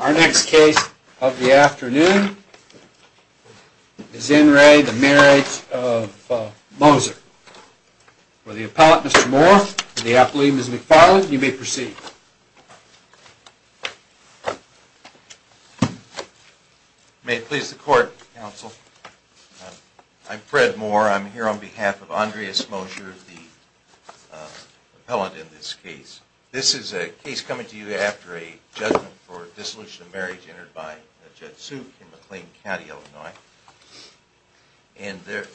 Our next case of the afternoon is In re the Marriage of Moser. For the appellate Mr. Moore and the appellee Ms. McFarland you may proceed. May it please the court counsel. I'm Fred Moore. I'm here on behalf of Andreas Moser the appellate in this case. This is a case coming to you after a judgment for dissolution of marriage entered by Jed Suk in McLean County, Illinois. In the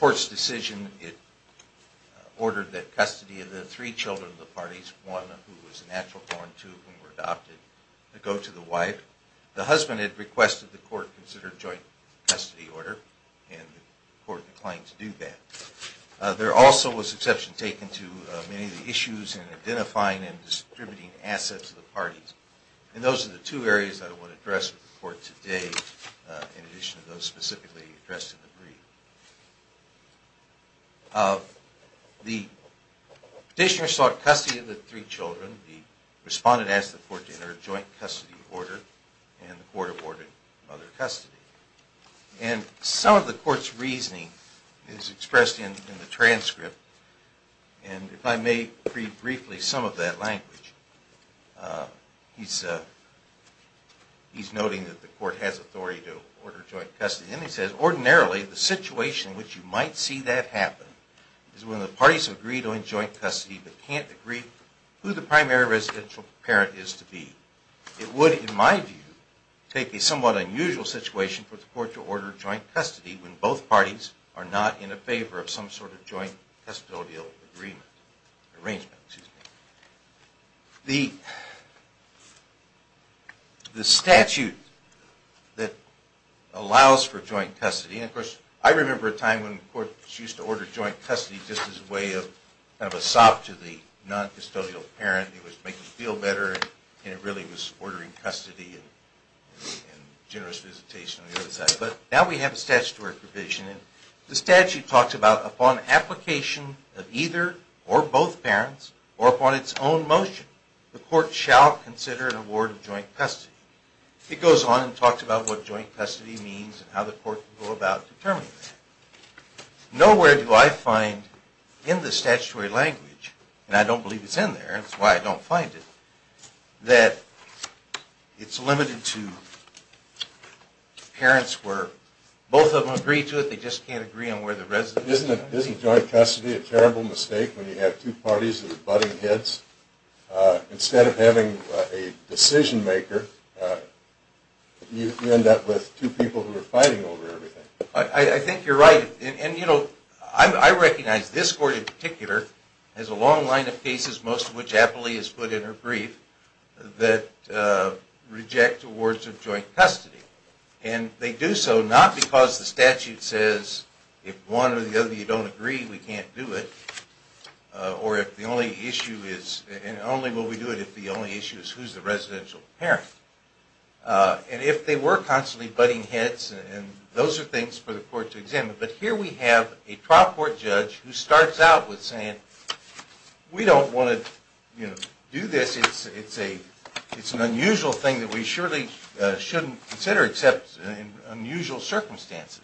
court's decision it ordered that custody of the three children of the parties, one who was a natural born, two who were adopted, go to the wife. The husband had requested the court consider joint custody order and the court declined to do that. There also was exception taken to many of the issues in identifying and distributing assets to the parties. And those are the two areas that I want to address with the court today in addition to those specifically addressed in the brief. The petitioner sought custody of the three children. The respondent asked the court to enter a joint custody order and the court ordered mother custody. And some of the court's reasoning is expressed in the transcript and if I may read briefly some of that language. He's noting that the court has authority to order joint custody and he says, Ordinarily, the situation in which you might see that happen is when the parties have agreed on joint custody but can't agree who the primary residential parent is to be. It would, in my view, take a somewhat unusual situation for the court to order joint custody when both parties are not in favor of some sort of joint custodial arrangement. The statute that allows for joint custody, and of course I remember a time when courts used to order joint custody just as a way of a sob to the non-custodial parent. It would make them feel better and it really was ordering custody and generous visitation on the other side. But now we have a statutory provision and the statute talks about upon application of either or both parents or upon its own motion, the court shall consider an award of joint custody. It goes on and talks about what joint custody means and how the court can go about determining that. Nowhere do I find in the statutory language, and I don't believe it's in there and that's why I don't find it, that it's limited to parents where both of them agree to it, they just can't agree on where the residential parent is. Isn't joint custody a terrible mistake when you have two parties that are butting heads? Instead of having a decision maker, you end up with two people who are fighting over everything. I think you're right, and you know, I recognize this court in particular has a long line of cases, most of which Appley has put in her brief, that reject awards of joint custody. And they do so not because the statute says if one or the other of you don't agree we can't do it, or if the only issue is, and only will we do it if the only issue is who's the residential parent. And if they were constantly butting heads, those are things for the court to examine. But here we have a trial court judge who starts out with saying, we don't want to do this, it's an unusual thing that we surely shouldn't consider except in unusual circumstances.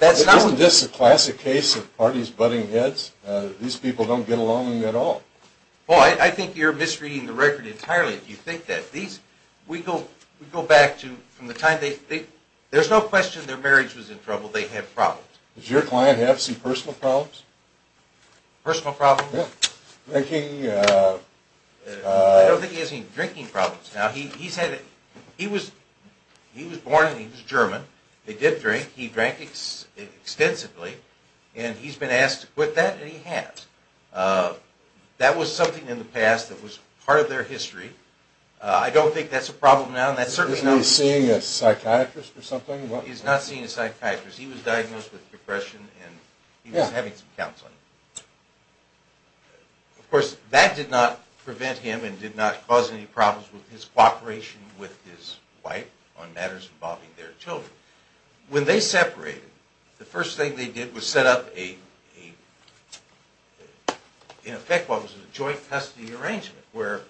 Isn't this a classic case of parties butting heads? These people don't get along at all. Well, I think you're misreading the record entirely if you think that. We go back to, from the time they, there's no question their marriage was in trouble, they have problems. Does your client have some personal problems? Personal problems? Yeah. Drinking, uh... I don't think he has any drinking problems. Now, he's had, he was born and he was German, he did drink, he drank extensively, and he's been asked to quit that, and he has. That was something in the past that was part of their history. I don't think that's a problem now. Is he seeing a psychiatrist or something? He's not seeing a psychiatrist. He was diagnosed with depression and he was having some counseling. Of course, that did not prevent him and did not cause any problems with his cooperation with his wife on matters involving their children. When they separated, the first thing they did was set up a, in effect, what was a joint custody arrangement where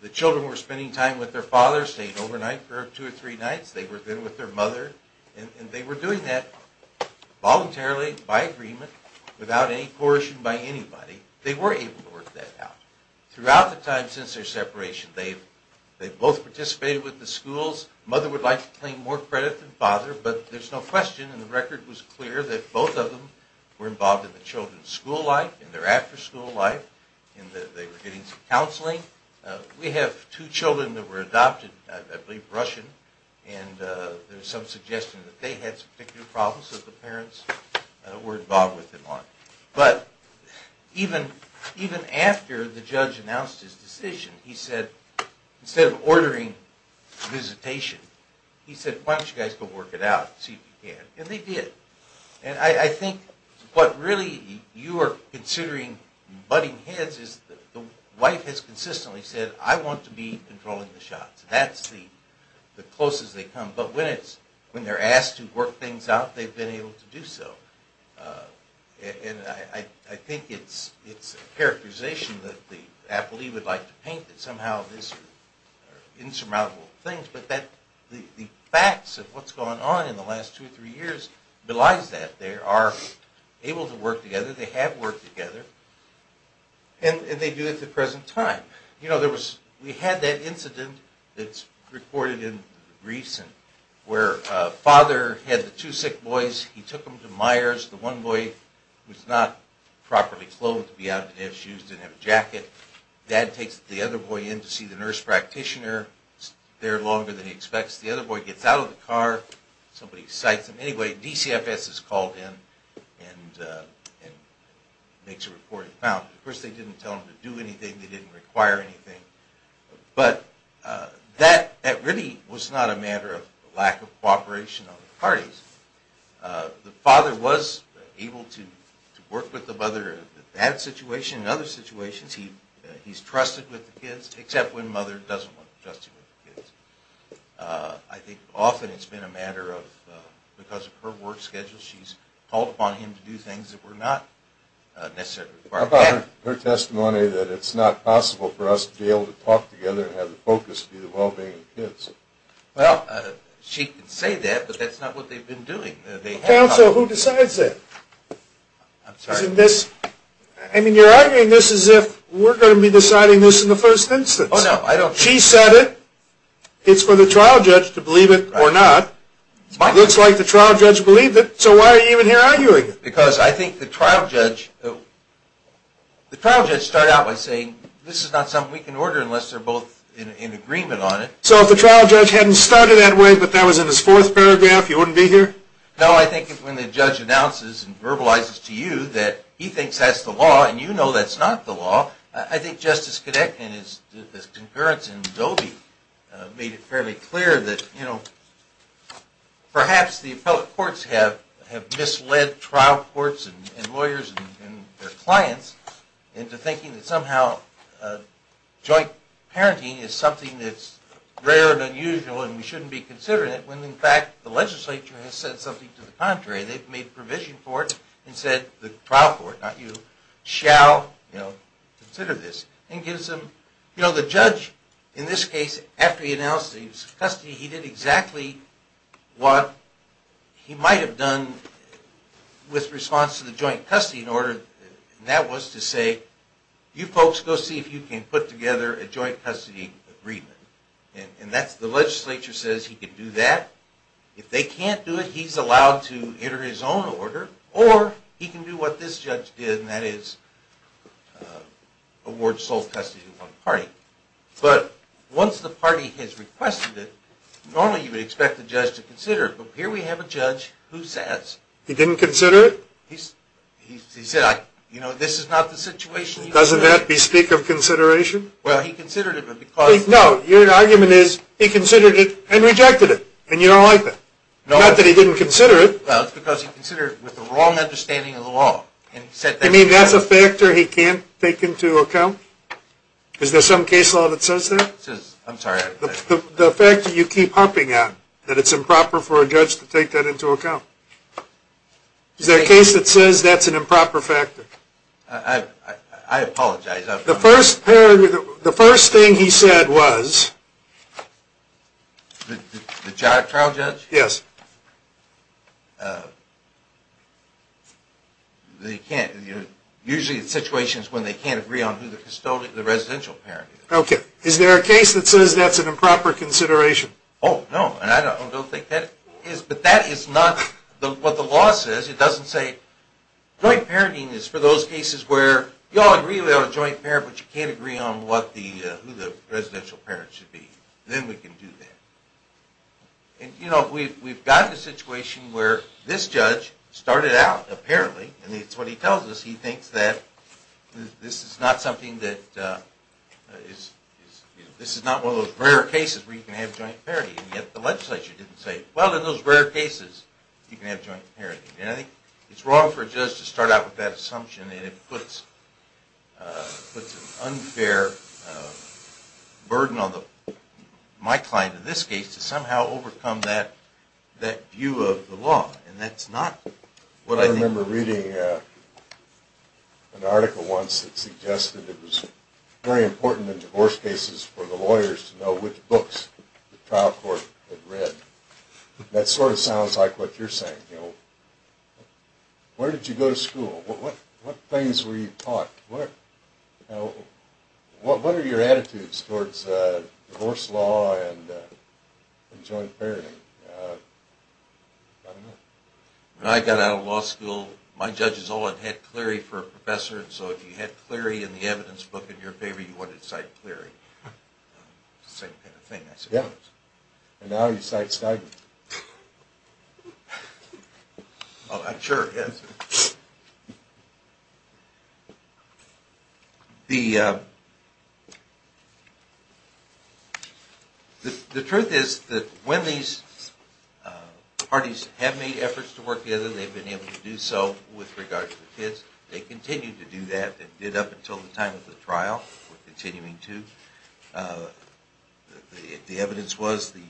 the children were spending time with their fathers, staying overnight for two or three nights, they were there with their mother, and they were doing that voluntarily, by agreement, without any coercion by anybody. They were able to work that out. Throughout the time since their separation, they've both participated with the schools. Mother would like to claim more credit than father, but there's no question, and the record was clear, that both of them were involved in the children's school life, and their after school life, and they were getting some counseling. We have two children that were adopted, I believe Russian, and there's some suggestion that they had some particular problems that the parents were involved with them on. But, even after the judge announced his decision, he said, instead of ordering visitation, he said, why don't you guys go work it out and see if you can. And they did. And I think what really you are considering butting heads is the wife has consistently said, I want to be controlling the shots. That's the closest they've come. But when they're asked to work things out, they've been able to do so. And I think it's a characterization that the appellee would like to paint, that somehow this is insurmountable things. But the facts of what's going on in the last two or three years belies that. They are able to work together, they have worked together, and they do at the present time. We had that incident that's recorded in the briefs, where a father had the two sick boys, he took them to Myers. The one boy was not properly clothed to be out in his shoes, didn't have a jacket. Dad takes the other boy in to see the nurse practitioner. He's there longer than he expects. The other boy gets out of the car. Somebody cites him. Anyway, DCFS is called in and makes a report. Of course, they didn't tell him to do anything. They didn't require anything. But that really was not a matter of lack of cooperation of the parties. The father was able to work with the mother in that situation and other situations. He's trusted with the kids, except when mother doesn't want to trust him with the kids. I think often it's been a matter of, because of her work schedule, she's called upon him to do things that were not necessarily required. How about her testimony that it's not possible for us to be able to talk together and have the focus be the well-being of the kids? Well, she can say that, but that's not what they've been doing. Counsel, who decides that? I'm sorry? I mean, you're arguing this as if we're going to be deciding this in the first instance. She said it. It's for the trial judge to believe it or not. It looks like the trial judge believed it. So why are you even here arguing it? Because I think the trial judge started out by saying, this is not something we can order unless they're both in agreement on it. So if the trial judge hadn't started that way but that was in his fourth paragraph, he wouldn't be here? No, I think when the judge announces and verbalizes to you that he thinks that's the law and you know that's not the law, I think Justice Connick and his concurrence in Adobe made it fairly clear that perhaps the appellate courts have misled trial courts and lawyers and their clients into thinking that somehow joint parenting is something that's rare and unusual and we shouldn't be considering it when in fact the legislature has said something to the contrary. They've made provision for it and said the trial court, not you, shall consider this. The judge, in this case, after he announced that he was in custody, he did exactly what he might have done with response to the joint custody in order, and that was to say, you folks go see if you can put together a joint custody agreement. And the legislature says he can do that. If they can't do it, he's allowed to enter his own order or he can do what this judge did and that is award sole custody to one party. But once the party has requested it, normally you would expect the judge to consider it, but here we have a judge who says... He didn't consider it? He said, you know, this is not the situation... Doesn't that bespeak of consideration? Well, he considered it but because... No, your argument is he considered it and rejected it and you don't like that. Not that he didn't consider it. Well, it's because he considered it with the wrong understanding of the law. You mean that's a factor he can't take into account? Is there some case law that says that? I'm sorry. The fact that you keep humping on, that it's improper for a judge to take that into account. Is there a case that says that's an improper factor? I apologize. The first thing he said was... The trial judge? Yes. Usually the situation is when they can't agree on who the residential parent is. Okay. Is there a case that says that's an improper consideration? Oh, no, and I don't think that is, but that is not what the law says. It doesn't say... Joint parenting is for those cases where you all agree we ought to joint parent, but you can't agree on who the residential parent should be. Then we can do that. And, you know, we've gotten to a situation where this judge started out, apparently, and it's what he tells us. He thinks that this is not something that is... This is not one of those rare cases where you can have joint parenting, and yet the legislature didn't say, Well, in those rare cases you can have joint parenting. And I think it's wrong for a judge to start out with that assumption and it puts an unfair burden on my client in this case to somehow overcome that view of the law. And that's not what I think... I remember reading an article once that suggested it was very important in divorce cases for the lawyers to know which books the trial court had read. That sort of sounds like what you're saying. Where did you go to school? What things were you taught? What are your attitudes towards divorce law and joint parenting? When I got out of law school, my judges all had had Cleary for a professor, and so if you had Cleary in the evidence book in your favor, you wanted to cite Cleary. It's the same kind of thing, I suppose. And now you cite Stiglitz. I'm sure, yes. The truth is that when these parties have made efforts to work together, they've been able to do so with regard to the kids. They continued to do that and did up until the time of the trial. We're continuing to. The evidence was the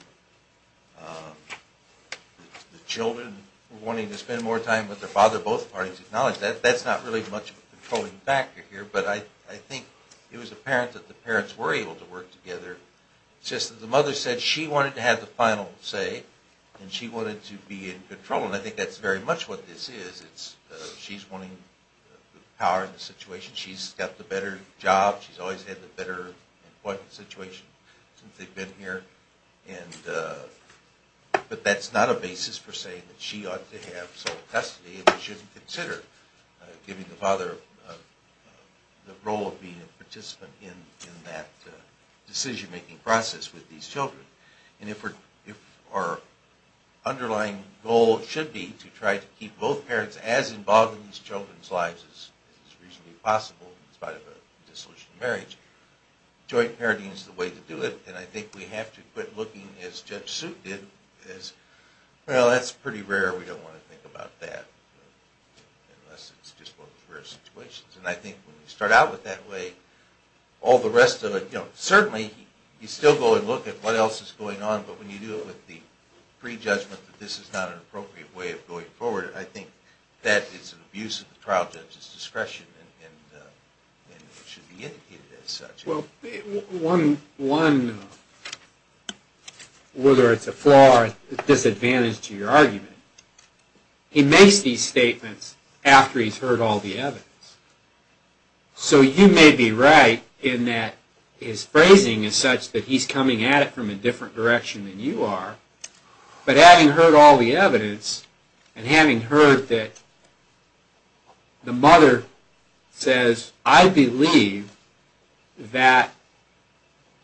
children were wanting to spend more time with their father. Both parties acknowledged that. That's not really much of a controlling factor here, but I think it was apparent that the parents were able to work together. It's just that the mother said she wanted to have the final say and she wanted to be in control, and I think that's very much what this is. She's wanting power in the situation. She's got the better job. She's always had the better employment situation since they've been here. But that's not a basis for saying that she ought to have sole custody and we shouldn't consider giving the father the role of being a participant in that decision-making process with these children. If our underlying goal should be to try to keep both parents as involved in these children's lives as reasonably possible in spite of a disillusioned marriage, joint parenting is the way to do it. I think we have to quit looking, as Judge Suit did, as, well, that's pretty rare. We don't want to think about that unless it's just one of those rare situations. I think when we start out with that way, all the rest of it... Certainly, you still go and look at what else is going on, but when you do it with the prejudgment that this is not an appropriate way of going forward, I think that is an abuse of the trial judge's discretion and it should be indicated as such. Well, one, whether it's a flaw or a disadvantage to your argument, he makes these statements after he's heard all the evidence. So you may be right in that his phrasing is such that he's coming at it from a different direction than you are, but having heard all the evidence and having heard that the mother says, I believe that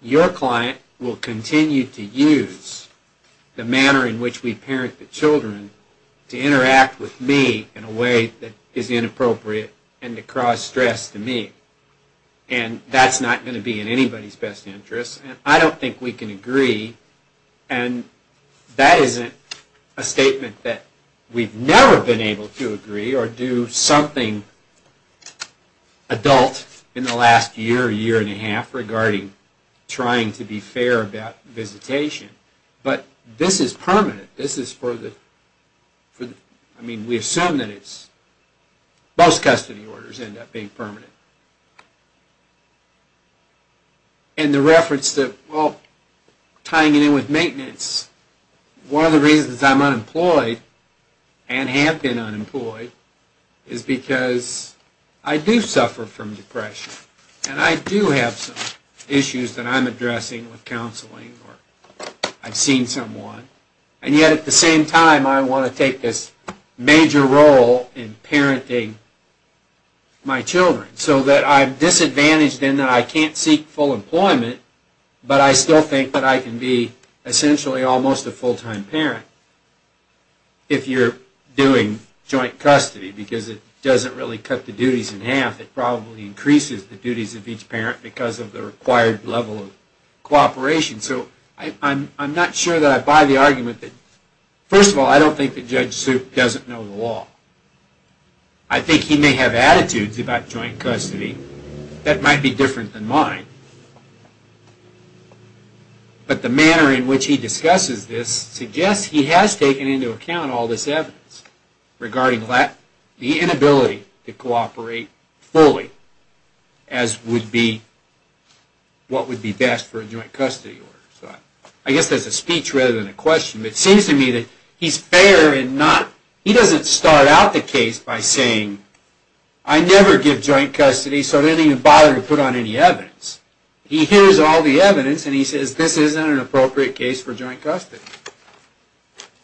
your client will continue to use the manner in which we parent the children to interact with me in a way that is inappropriate and to cause stress to me, and that's not going to be in anybody's best interest. I don't think we can agree, and that isn't a statement that we've never been able to agree or do something adult in the last year, year and a half, regarding trying to be fair about visitation, but this is permanent. This is for the, I mean, we assume that it's, most custody orders end up being permanent. And the reference that, well, tying it in with maintenance, one of the reasons I'm unemployed and have been unemployed is because I do suffer from depression and I do have some issues that I'm addressing with counseling or I've seen someone, and yet at the same time, I want to take this major role in parenting my children, so that I'm disadvantaged in that I can't seek full employment, but I still think that I can be essentially almost a full-time parent if you're doing joint custody, because it doesn't really cut the duties in half. It probably increases the duties of each parent because of the required level of cooperation, so I'm not sure that I buy the argument that, first of all, I don't think that Judge Soup doesn't know the law. I think he may have attitudes about joint custody that might be different than mine, but the manner in which he discusses this suggests he has taken into account all this evidence regarding the inability to cooperate fully, as would be what would be best for a joint custody order. I guess that's a speech rather than a question, but it seems to me that he's fair and he doesn't start out the case by saying, I never give joint custody, so I didn't even bother to put on any evidence. He hears all the evidence and he says this isn't an appropriate case for joint custody.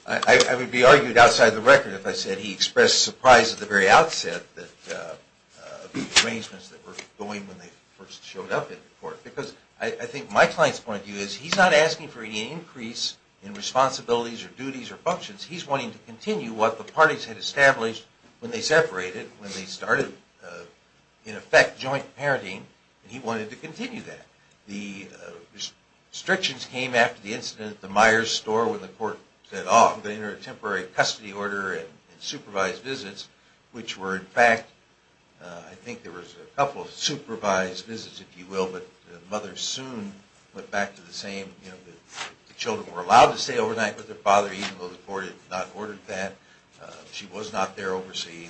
I would be argued outside the record if I said he expressed surprise at the very outset of the arrangements that were going when they first showed up in court, because I think my client's point of view is he's not asking for any increase in responsibilities or duties or functions. He's wanting to continue what the parties had established when they separated, when they started, in effect, joint parenting, and he wanted to continue that. The restrictions came after the incident at the Meyers store when the court said, oh, we're going to enter a temporary custody order and supervised visits, which were, in fact, I think there was a couple of supervised visits, if you will, but the mother soon went back to the same. The children were allowed to stay overnight with their father, even though the court had not ordered that. She was not there overseeing,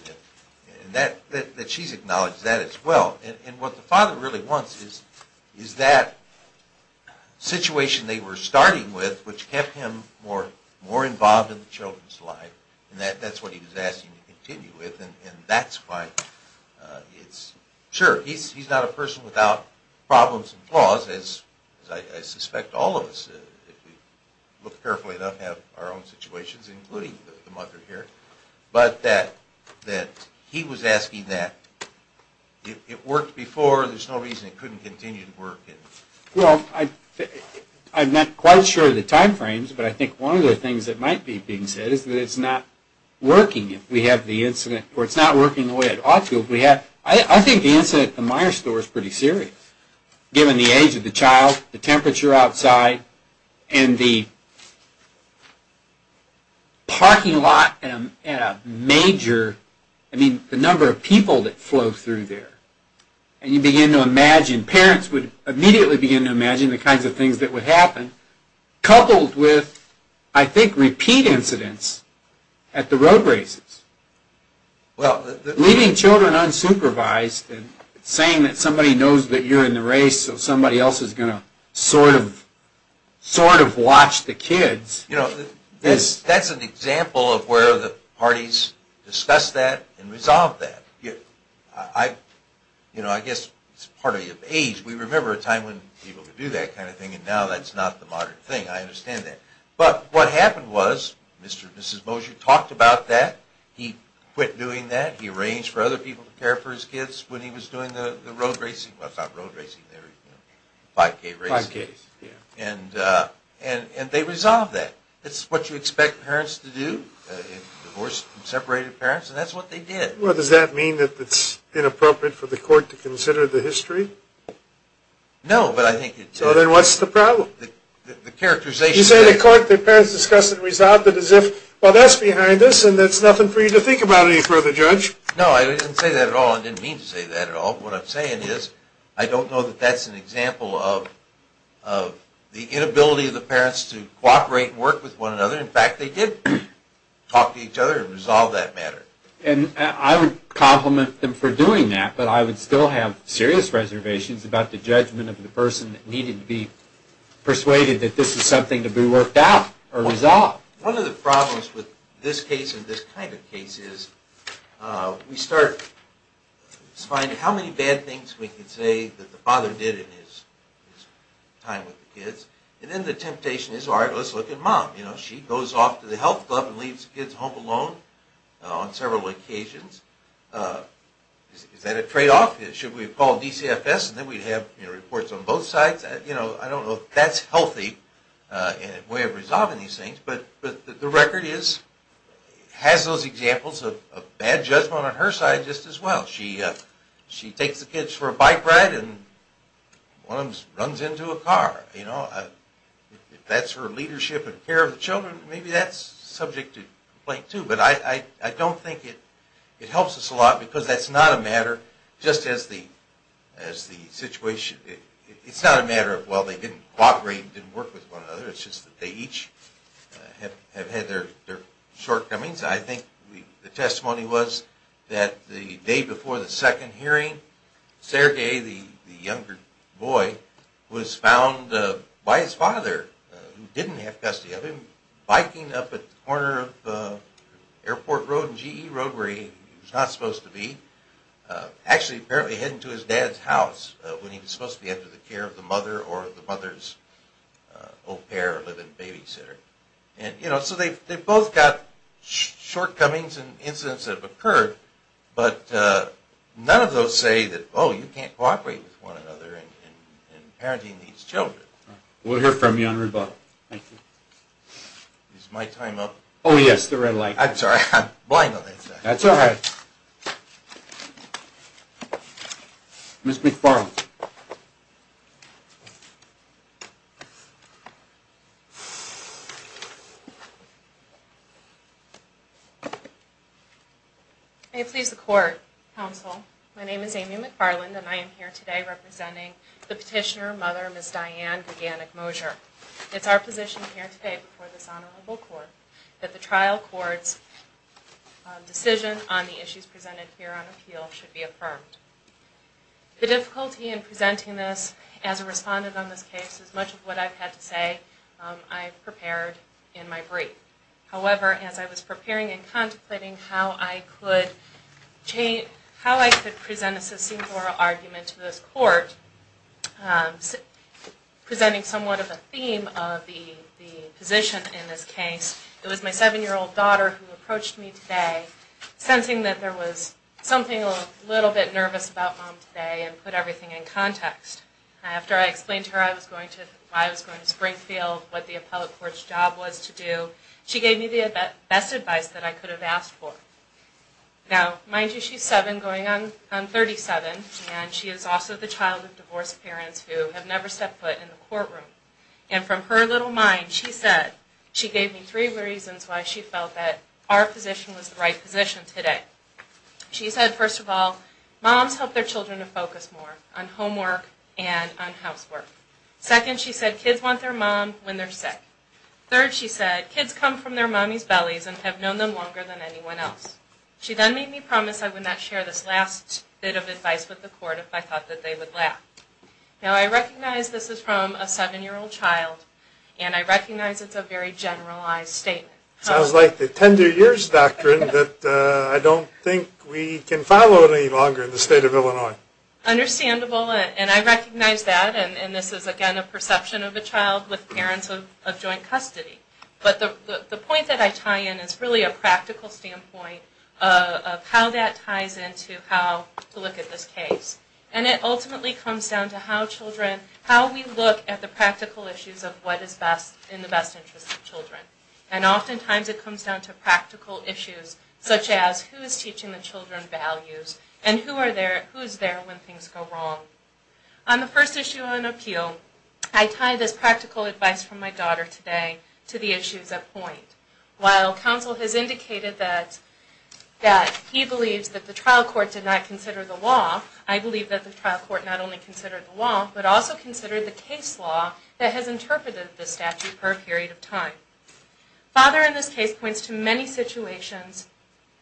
and she's acknowledged that as well. And what the father really wants is that situation they were starting with, which kept him more involved in the children's lives, and that's what he was asking to continue with, and that's why it's... Sure, he's not a person without problems and flaws, as I suspect all of us, if we look carefully enough, have our own situations, including the mother here, but that he was asking that it worked before, there's no reason it couldn't continue to work. Well, I'm not quite sure of the time frames, but I think one of the things that might be being said is that it's not working, if we have the incident, or it's not working the way it ought to. I think the incident at the Meyers store is pretty serious, given the age of the child, the temperature outside, and the parking lot and the number of people that flow through there. And you begin to imagine, parents would immediately begin to imagine the kinds of things that would happen, coupled with, I think, repeat incidents at the road races. Leaving children unsupervised, and saying that somebody knows that you're in the race, so somebody else is going to sort of watch the kids. That's an example of where the parties discuss that and resolve that. I guess it's part of the age, we remember a time when people could do that kind of thing, and now that's not the modern thing, I understand that. But what happened was, Mr. and Mrs. Mosher talked about that, he quit doing that, he arranged for other people to care for his kids when he was doing the road racing, well, not road racing, 5K racing. And they resolved that. It's what you expect parents to do, divorced and separated parents, and that's what they did. Well, does that mean that it's inappropriate for the court to consider the history? No, but I think it's... So then what's the problem? The characterization... You say the court, the parents discussed and resolved it as if, well, that's behind us, and that's nothing for you to think about any further, Judge. No, I didn't say that at all, I didn't mean to say that at all. What I'm saying is, I don't know that that's an example of the inability of the parents to cooperate and work with one another. In fact, they did talk to each other and resolve that matter. And I would compliment them for doing that, but I would still have serious reservations about the judgment of the person that needed to be persuaded that this is something to be worked out or resolved. One of the problems with this case and this kind of case is we start to find how many bad things we can say that the father did in his time with the kids, and then the temptation is, all right, let's look at mom. She goes off to the health club and leaves the kids home alone on several occasions. Is that a tradeoff? Should we have called DCFS and then we'd have reports on both sides? I don't know if that's healthy in a way of resolving these things, but the record has those examples of bad judgment on her side just as well. She takes the kids for a bike ride and one of them runs into a car. If that's her leadership and care of the children, maybe that's subject to complaint too. But I don't think it helps us a lot because that's not a matter just as the situation. It's not a matter of, well, they didn't cooperate and didn't work with one another. It's just that they each have had their shortcomings. I think the testimony was that the day before the second hearing, Sergei, the younger boy, was found by his father, who didn't have custody of him, biking up at the corner of Airport Road and GE Road where he was not supposed to be, actually apparently heading to his dad's house when he was supposed to be under the care of the mother or the mother's au pair living babysitter. So they've both got shortcomings and incidents that have occurred, but none of those say that, oh, you can't cooperate with one another in parenting these children. We'll hear from you on rebuttal. Is my time up? Oh, yes, the red light. I'm sorry, I'm blind on that side. That's all right. Ms. McFarland. May it please the Court, Counsel, my name is Amy McFarland, and I am here today representing the petitioner, Mother, Ms. Diane Viganick-Mosier. It's our position here today before this Honorable Court that the trial court's decision on the issues presented here on appeal should be affirmed. The difficulty in presenting this as a respondent on this case is much of what I've had to say I've prepared in my brief. However, as I was preparing and contemplating how I could present a succinct oral argument to this Court, presenting somewhat of a theme of the position in this case, it was my 7-year-old daughter who approached me today, sensing that there was something a little bit nervous about Mom today, and put everything in context. After I explained to her why I was going to Springfield, what the appellate court's job was to do, she gave me the best advice that I could have asked for. Now, mind you, she's 7 going on 37, and she is also the child of divorced parents who have never stepped foot in the courtroom. And from her little mind, she said, she gave me three reasons why she felt that our position was the right position today. She said, first of all, moms help their children to focus more on homework and on housework. Second, she said, kids want their mom when they're sick. Third, she said, kids come from their mommy's bellies and have known them longer than anyone else. She then made me promise I would not share this last bit of advice with the Court if I thought that they would laugh. Now, I recognize this is from a 7-year-old child, and I recognize it's a very generalized statement. Sounds like the 10-year-years doctrine that I don't think we can follow any longer in the state of Illinois. Understandable, and I recognize that, and this is again a perception of a child with parents of joint custody. But the point that I tie in is really a practical standpoint of how that ties into how to look at this case. And it ultimately comes down to how children, how we look at the practical issues of what is best in the best interest of children. And oftentimes it comes down to practical issues, such as who is teaching the children values, and who is there when things go wrong. On the first issue on appeal, I tie this practical advice from my daughter today to the issues at point. While counsel has indicated that he believes that the trial court did not consider the law, I believe that the trial court not only considered the law, but also considered the case law that has interpreted this statute for a period of time. Father in this case points to many situations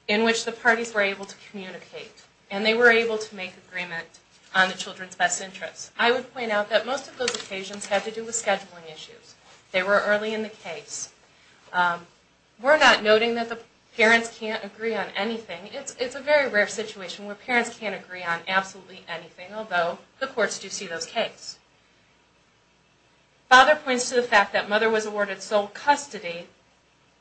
in which the parties were able to communicate, and they were able to make agreement on the children's best interests. I would point out that most of those occasions had to do with scheduling issues. They were early in the case. We're not noting that the parents can't agree on anything. It's a very rare situation where parents can't agree on absolutely anything, although the courts do see those cases. Father points to the fact that mother was awarded sole custody,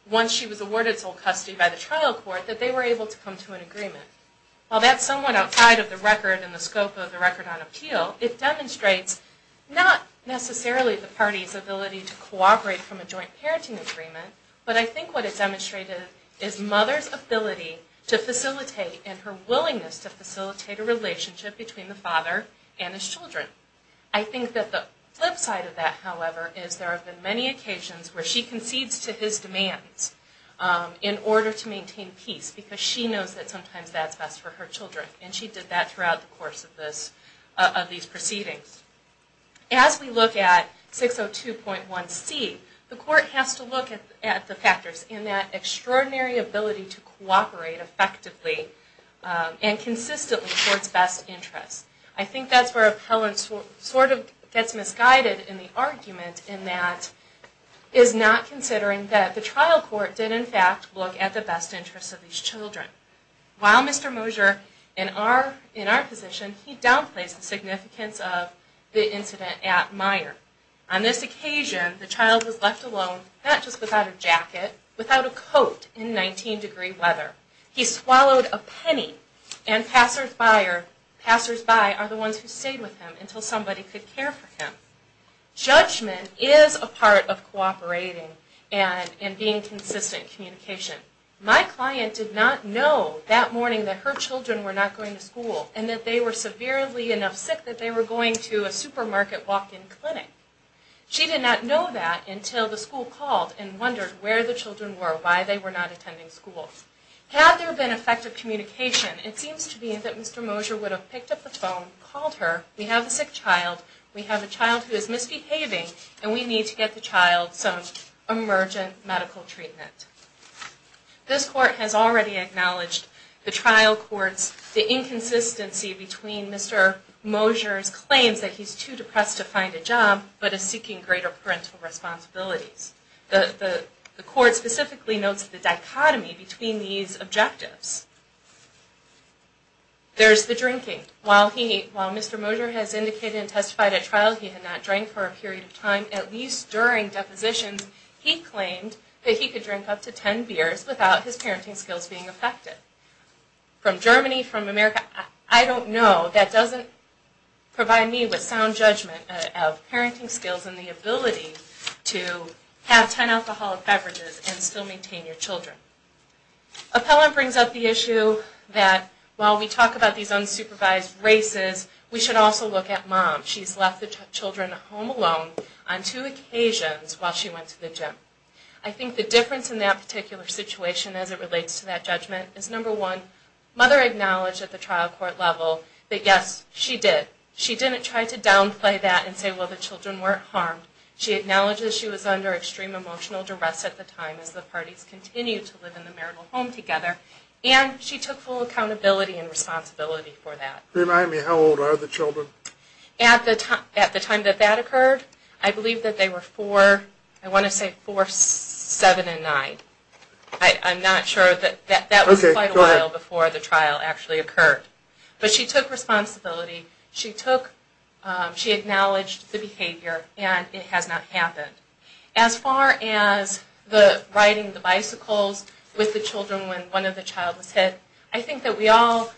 once she was awarded sole custody by the trial court, that they were able to come to an agreement. While that's somewhat outside of the record and the scope of the record on appeal, it demonstrates not necessarily the party's ability to cooperate from a joint parenting agreement, but I think what it demonstrated is mother's ability to facilitate, and her willingness to facilitate a relationship between the father and his children. I think that the flip side of that, however, is there have been many occasions where she concedes to his demands in order to maintain peace, because she knows that sometimes that's best for her children, and she did that throughout the course of these proceedings. As we look at 602.1c, the court has to look at the factors in that extraordinary ability to cooperate effectively and consistently towards best interests. I think that's where Appellant sort of gets misguided in the argument in that is not considering that the trial court did in fact look at the best interests of these children. While Mr. Mosier, in our position, he downplays the significance of the incident at Meijer. On this occasion, the child was left alone, not just without a jacket, without a coat in 19-degree weather. He swallowed a penny, and passersby are the ones who stayed with him until somebody could care for him. Judgment is a part of cooperating and being consistent in communication. My client did not know that morning that her children were not going to school, and that they were severely enough sick that they were going to a supermarket walk-in clinic. She did not know that until the school called and wondered where the children were, why they were not attending school. Had there been effective communication, it seems to me that Mr. Mosier would have picked up the phone, called her, we have a sick child, we have a child who is misbehaving, and we need to get the child some emergent medical treatment. This court has already acknowledged the trial court's, the inconsistency between Mr. Mosier's claims that he's too depressed to find a job, but is seeking greater parental responsibilities. The court specifically notes the dichotomy between these objectives. There's the drinking. While Mr. Mosier has indicated and testified at trial he had not drank for a period of time, at least during depositions, he claimed that he could drink up to 10 beers without his parenting skills being affected. From Germany, from America, I don't know. That doesn't provide me with sound judgment of parenting skills and the ability to have 10 alcoholic beverages and still maintain your children. Appellant brings up the issue that while we talk about these unsupervised races, we should also look at mom. She's left the children home alone on two occasions while she went to the gym. I think the difference in that particular situation as it relates to that judgment is, number one, mother acknowledged at the trial court level that, yes, she did. She didn't try to downplay that and say, well, the children weren't harmed. She acknowledged that she was under extreme emotional duress at the time as the parties continued to live in the marital home together, and she took full accountability and responsibility for that. Remind me, how old are the children? At the time that that occurred, I believe that they were four, I want to say four, seven, and nine. I'm not sure that that was quite a while before the trial actually occurred. But she took responsibility. She acknowledged the behavior, and it has not happened. As far as the riding the bicycles with the children when one of the children was hit, I think that we all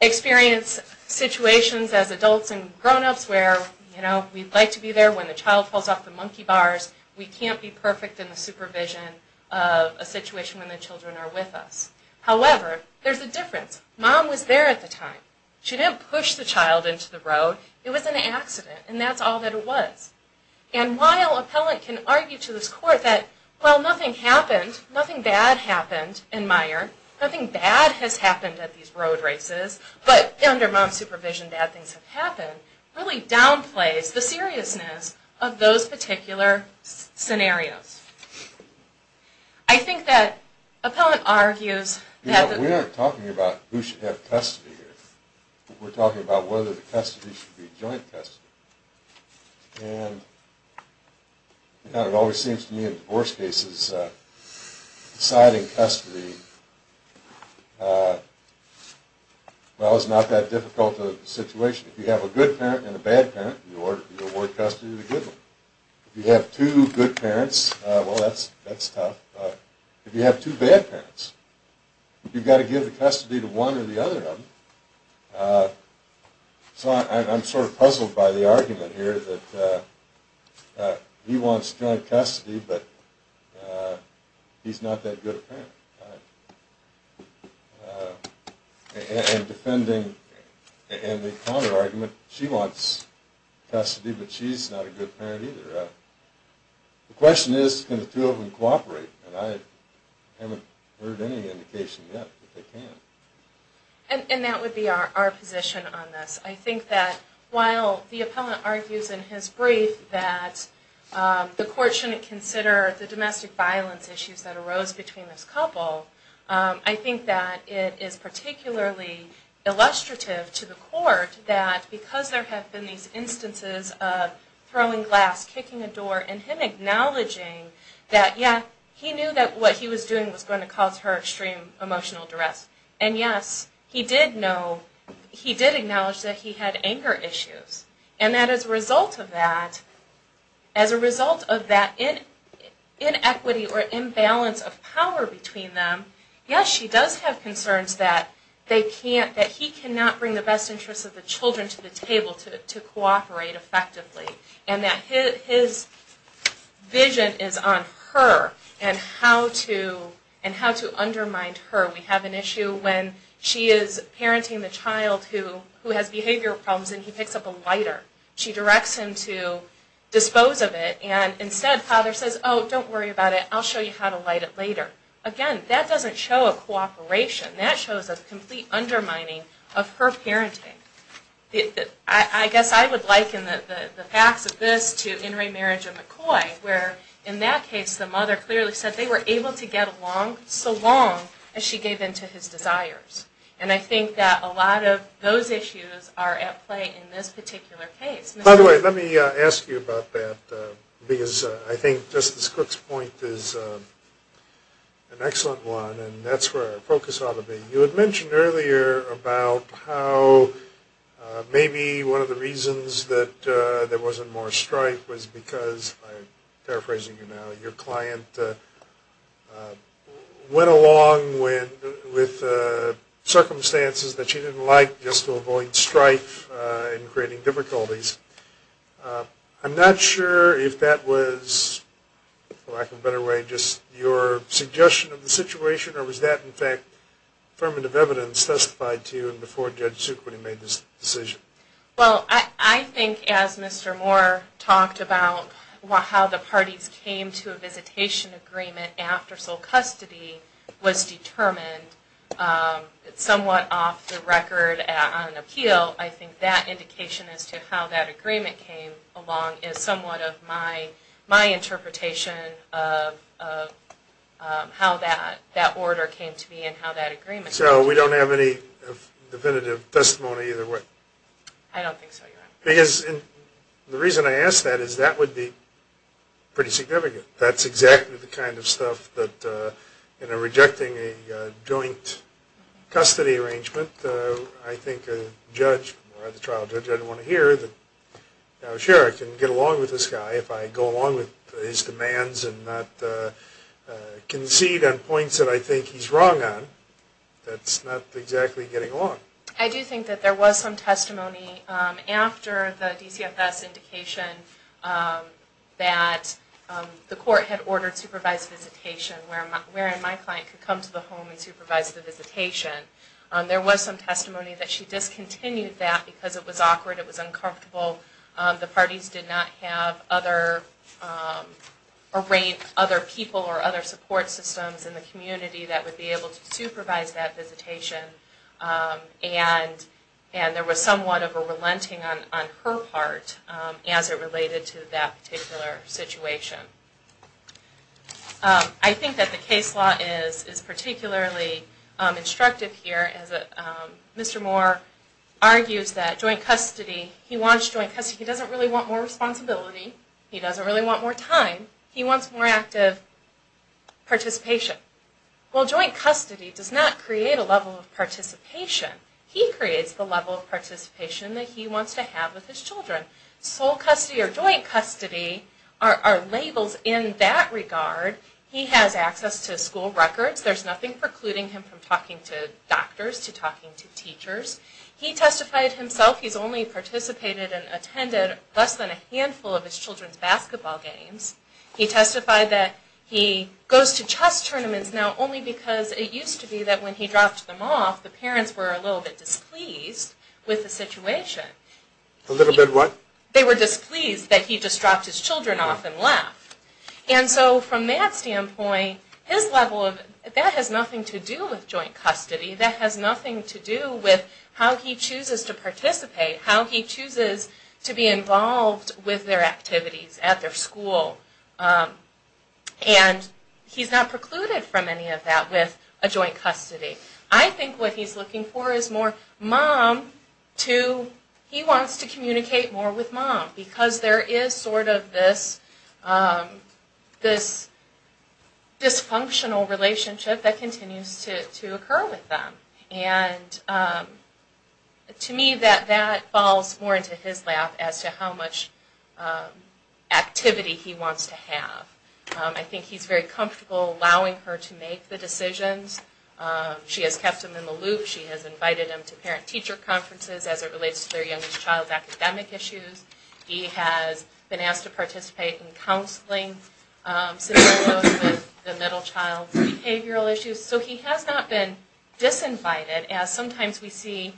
experience situations as adults and grown-ups where, you know, we'd like to be there when the child falls off the monkey bars. We can't be perfect in the supervision of a situation when the children are with us. However, there's a difference. Mom was there at the time. She didn't push the child into the road. It was an accident, and that's all that it was. And while appellant can argue to this court that, well, nothing happened, nothing bad happened in Meijer, nothing bad has happened at these road races, but under mom's supervision, bad things have happened, really downplays the seriousness of those particular scenarios. I think that appellant argues that... We aren't talking about who should have custody here. We're talking about whether the custody should be joint custody. And it always seems to me in divorce cases, deciding custody, well, is not that difficult a situation. If you have a good parent and a bad parent, you award custody to the good one. If you have two good parents, well, that's tough. If you have two bad parents, you've got to give the custody to one or the other of them. So I'm sort of puzzled by the argument here that he wants joint custody, but he's not that good a parent. And defending Anne McConner's argument, she wants custody, but she's not a good parent either. The question is, can the two of them cooperate? And I haven't heard any indication yet that they can. And that would be our position on this. I think that while the appellant argues in his brief that the court shouldn't consider the domestic violence issues that arose between this couple, I think that it is particularly illustrative to the court that because there have been these instances of throwing glass, kicking a door, and him acknowledging that, yeah, he knew that what he was doing was going to cause her extreme emotional duress. And, yes, he did acknowledge that he had anger issues. And that as a result of that, as a result of that inequity or imbalance of power between them, yes, she does have concerns that he cannot bring the best interests of the children to the table to cooperate effectively. And that his vision is on her and how to undermine her. We have an issue when she is parenting the child who has behavioral problems and he picks up a lighter, she directs him to dispose of it, and instead father says, oh, don't worry about it, I'll show you how to light it later. Again, that doesn't show a cooperation. That shows a complete undermining of her parenting. I guess I would liken the facts of this to In Re Marriage of McCoy, where in that case the mother clearly said they were able to get along so long as she gave in to his desires. And I think that a lot of those issues are at play in this particular case. By the way, let me ask you about that because I think Justice Cook's point is an excellent one and that's where our focus ought to be. You had mentioned earlier about how maybe one of the reasons that there wasn't more strife was because, and I'm paraphrasing you now, your client went along with circumstances that she didn't like just to avoid strife and creating difficulties. I'm not sure if that was, for lack of a better way, just your suggestion of the situation or was that, in fact, affirmative evidence testified to you before Judge Suquid made this decision? Well, I think as Mr. Moore talked about how the parties came to a visitation agreement after sole custody was determined somewhat off the record on appeal, I think that indication as to how that agreement came along is somewhat of my interpretation of how that order came to be and how that agreement came to be. So we don't have any definitive testimony either way? I don't think so, Your Honor. Because the reason I ask that is that would be pretty significant. That's exactly the kind of stuff that, you know, rejecting a joint custody arrangement, I think a judge or the trial judge would want to hear that, sure, I can get along with this guy if I go along with his demands and not concede on points that I think he's wrong on. That's not exactly getting along. I do think that there was some testimony after the DCFS indication that the court had ordered supervised visitation, wherein my client could come to the home and supervise the visitation. There was some testimony that she discontinued that because it was awkward, it was uncomfortable, the parties did not have other people or other support systems in the community that would be able to supervise that visitation, and there was somewhat of a relenting on her part as it related to that particular situation. I think that the case law is particularly instructive here. Mr. Moore argues that joint custody, he wants joint custody, he doesn't really want more responsibility, he doesn't really want more time, he wants more active participation. Well, joint custody does not create a level of participation. He creates the level of participation that he wants to have with his children. Sole custody or joint custody are labels in that regard. He has access to school records. There's nothing precluding him from talking to doctors, to talking to teachers. He testified himself he's only participated and attended less than a handful of his children's basketball games. He testified that he goes to chess tournaments now only because it used to be that when he dropped them off, the parents were a little bit displeased with the situation. A little bit what? They were displeased that he just dropped his children off and left. And so from that standpoint, that has nothing to do with joint custody. That has nothing to do with how he chooses to participate, how he chooses to be involved with their activities at their school. And he's not precluded from any of that with a joint custody. I think what he's looking for is more mom to, he wants to communicate more with mom because there is sort of this dysfunctional relationship that continues to occur with them. And to me that falls more into his lap as to how much activity he wants to have. I think he's very comfortable allowing her to make the decisions. She has kept him in the loop. She has invited him to parent-teacher conferences as it relates to their youngest child's academic issues. He has been asked to participate in counseling similar to the middle child's behavioral issues. So he has not been disinvited as sometimes we see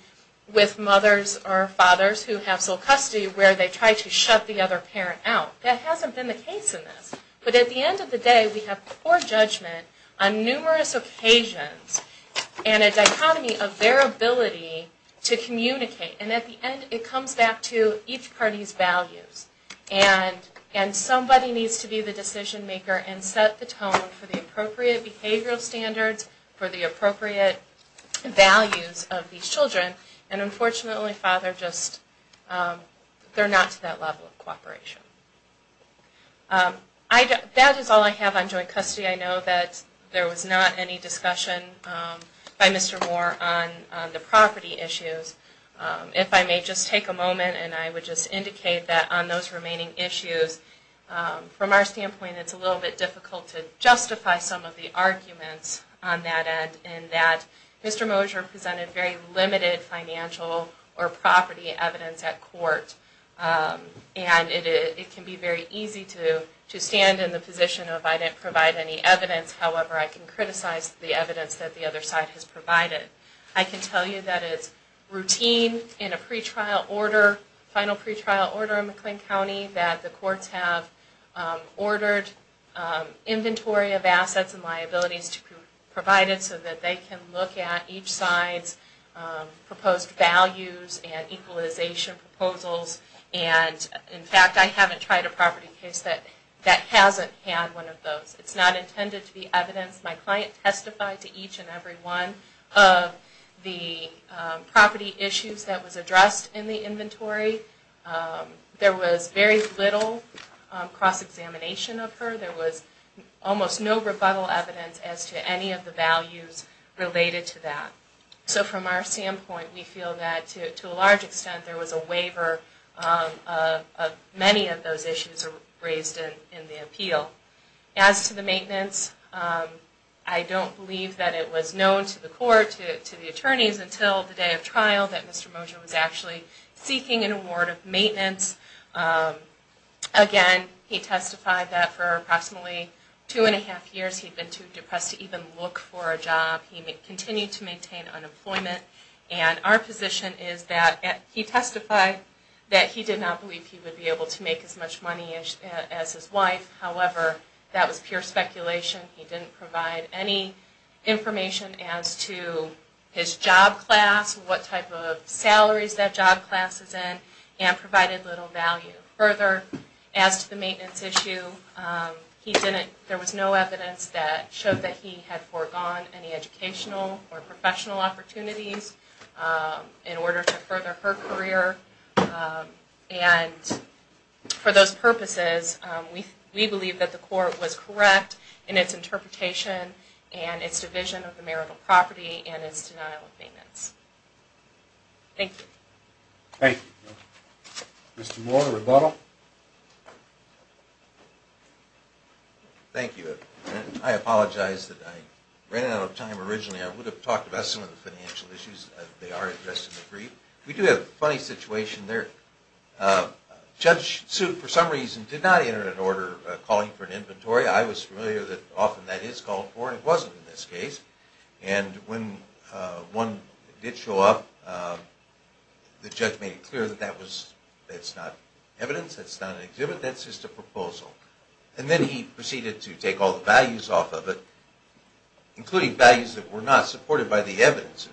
with mothers or fathers who have sole custody where they try to shut the other parent out. That hasn't been the case in this. But at the end of the day, we have poor judgment on numerous occasions and a dichotomy of their ability to communicate. And at the end it comes back to each party's values. And somebody needs to be the decision maker and set the tone for the appropriate behavioral standards, for the appropriate values of these children. And unfortunately father just, they're not to that level of cooperation. That is all I have on joint custody. I know that there was not any discussion by Mr. Moore on the property issues. If I may just take a moment and I would just indicate that on those remaining issues, from our standpoint it's a little bit difficult to justify some of the arguments on that end in that Mr. Mosher presented very limited financial or property evidence at court. And it can be very easy to stand in the position of I didn't provide any evidence, however I can criticize the evidence that the other side has provided. I can tell you that it's routine in a pretrial order, final pretrial order in McLean County, that the courts have ordered inventory of assets and liabilities to be provided so that they can look at each side's proposed values and equalization proposals. And in fact I haven't tried a property case that hasn't had one of those. It's not intended to be evidence. My client testified to each and every one of the property issues that was addressed in the inventory. There was very little cross-examination of her. There was almost no rebuttal evidence as to any of the values related to that. So from our standpoint we feel that to a large extent there was a waiver of many of those issues raised in the appeal. As to the maintenance, I don't believe that it was known to the court, to the attorneys until the day of trial that Mr. Mosher was actually seeking an award of maintenance. Again, he testified that for approximately two and a half years he'd been too depressed to even look for a job. He continued to maintain unemployment. And our position is that he testified that he did not believe he would be able to make as much money as his wife. However, that was pure speculation. He didn't provide any information as to his job class, what type of salaries that job class is in, and provided little value. Further, as to the maintenance issue, there was no evidence that showed that he had foregone any educational or professional opportunities in order to further her career. And for those purposes, we believe that the court was correct in its interpretation and its division of the marital property and its denial of maintenance. Thank you. Thank you. Mr. Moore, rebuttal. Thank you. I apologize that I ran out of time originally. I would have talked about some of the financial issues. They are addressed in the brief. We do have a funny situation there. Judge Sue, for some reason, did not enter an order calling for an inventory. I was familiar that often that is called for, and it wasn't in this case. And when one did show up, the judge made it clear that that's not evidence, that's not an exhibit, that's just a proposal. And then he proceeded to take all the values off of it, including values that were not supported by the evidence.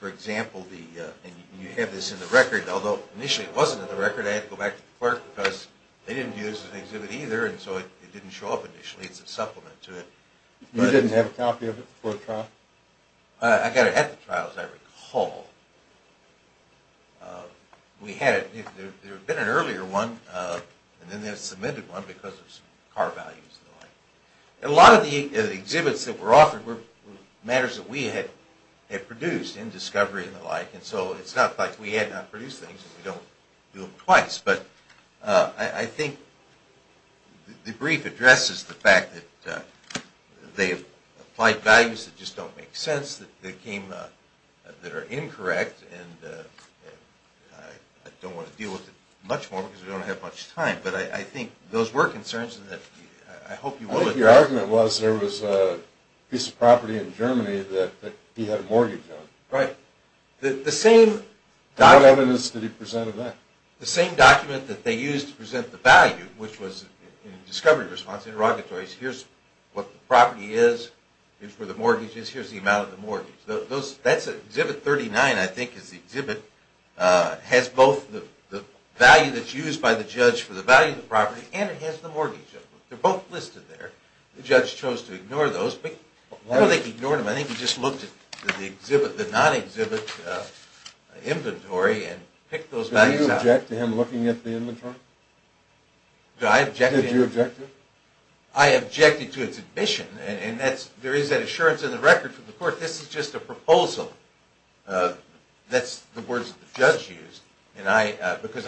For example, you have this in the record. Although initially it wasn't in the record, I had to go back to the clerk because they didn't do this as an exhibit either, and so it didn't show up initially as a supplement to it. You didn't have a copy of it before the trial? I got it at the trial, as I recall. There had been an earlier one, and then they had submitted one because of some car values and the like. A lot of the exhibits that were offered were matters that we had produced in discovery and the like, and so it's not like we had not produced things and we don't do them twice. But I think the brief addresses the fact that they applied values that just don't make sense, that are incorrect, and I don't want to deal with it much more because we don't have much time. But I think those were concerns that I hope you will address. Your argument was there was a piece of property in Germany that he had a mortgage on. Right. How evidence did he present of that? The same document that they used to present the value, which was in discovery response interrogatories, here's what the property is for the mortgages, here's the amount of the mortgage. That's exhibit 39, I think, is the exhibit. It has both the value that's used by the judge for the value of the property and it has the mortgage. They're both listed there. The judge chose to ignore those, but I don't think he ignored them. I think he just looked at the non-exhibit inventory and picked those values out. Did you object to him looking at the inventory? Did you object to it? I objected to its admission, and there is that assurance in the record from the court. This is just a proposal. That's the words that the judge used. Because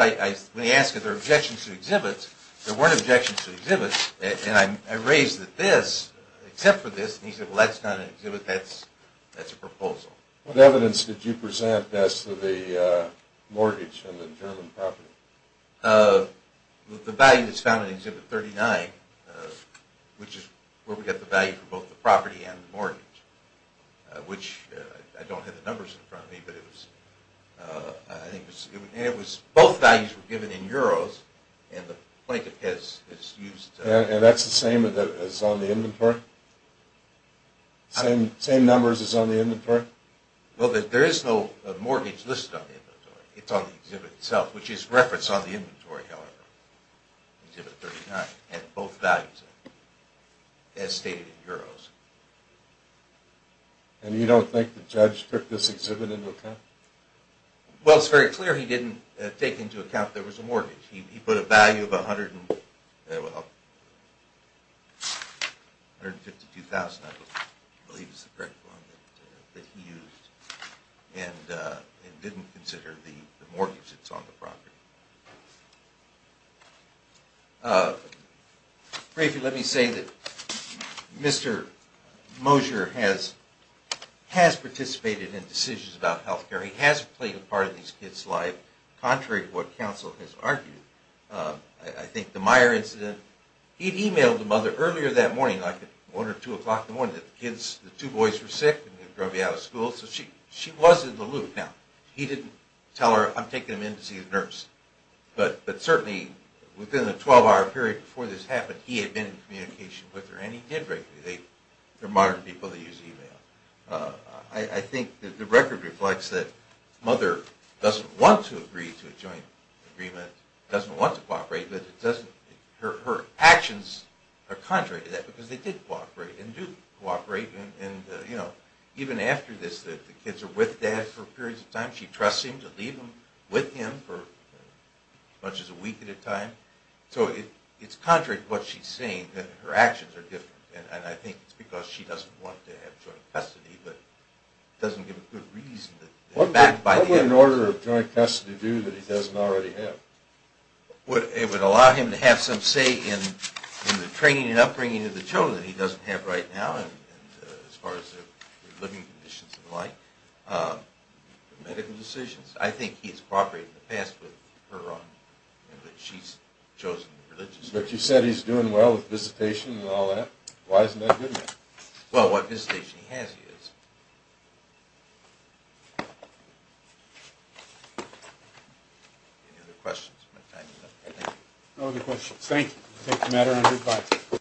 when he asked if there were objections to exhibits, there weren't objections to exhibits, and I raised that this, except for this, and he said, well, that's not an exhibit, that's a proposal. What evidence did you present as to the mortgage on the German property? The value that's found in exhibit 39, which is where we get the value for both the property and the mortgage, which I don't have the numbers in front of me, but it was, I think it was, both values were given in euros, and the plaintiff has used. And that's the same as on the inventory? Same numbers as on the inventory? Well, there is no mortgage listed on the inventory. It's on the exhibit itself, which is referenced on the inventory, however. Exhibit 39 had both values in it, as stated in euros. And you don't think the judge took this exhibit into account? Well, it's very clear he didn't take into account there was a mortgage. He put a value of $152,000, I believe is the correct one, that he used, and didn't consider the mortgage that's on the property. Briefly, let me say that Mr. Mosher has participated in decisions about health care. He has played a part in these kids' lives, contrary to what counsel has argued. I think the Meyer incident, he'd emailed the mother earlier that morning, like at 1 or 2 o'clock in the morning, that the kids, the two boys were sick, and they were going to be out of school, so she was in the loop. Now, he didn't tell her, I'm taking them in to see a nurse. But certainly, within the 12-hour period before this happened, he had been in communication with her, and he did regularly. They're modern people, they use email. I think the record reflects that the mother doesn't want to agree to a joint agreement, doesn't want to cooperate, but her actions are contrary to that, because they did cooperate, and do cooperate. Even after this, the kids are with Dad for periods of time. She trusts him to leave them with him for as much as a week at a time. So it's contrary to what she's saying, that her actions are different. And I think it's because she doesn't want to have joint custody, but doesn't give a good reason. What would an order of joint custody do that he doesn't already have? It would allow him to have some say in the training and upbringing of the children that he doesn't have right now, as far as their living conditions and the like, medical decisions. I think he has cooperated in the past with her on that, but she's chosen religiously. But you said he's doing well with visitation and all that. Why isn't that good news? Well, what visitation he has, he is. Any other questions? No other questions. Thank you.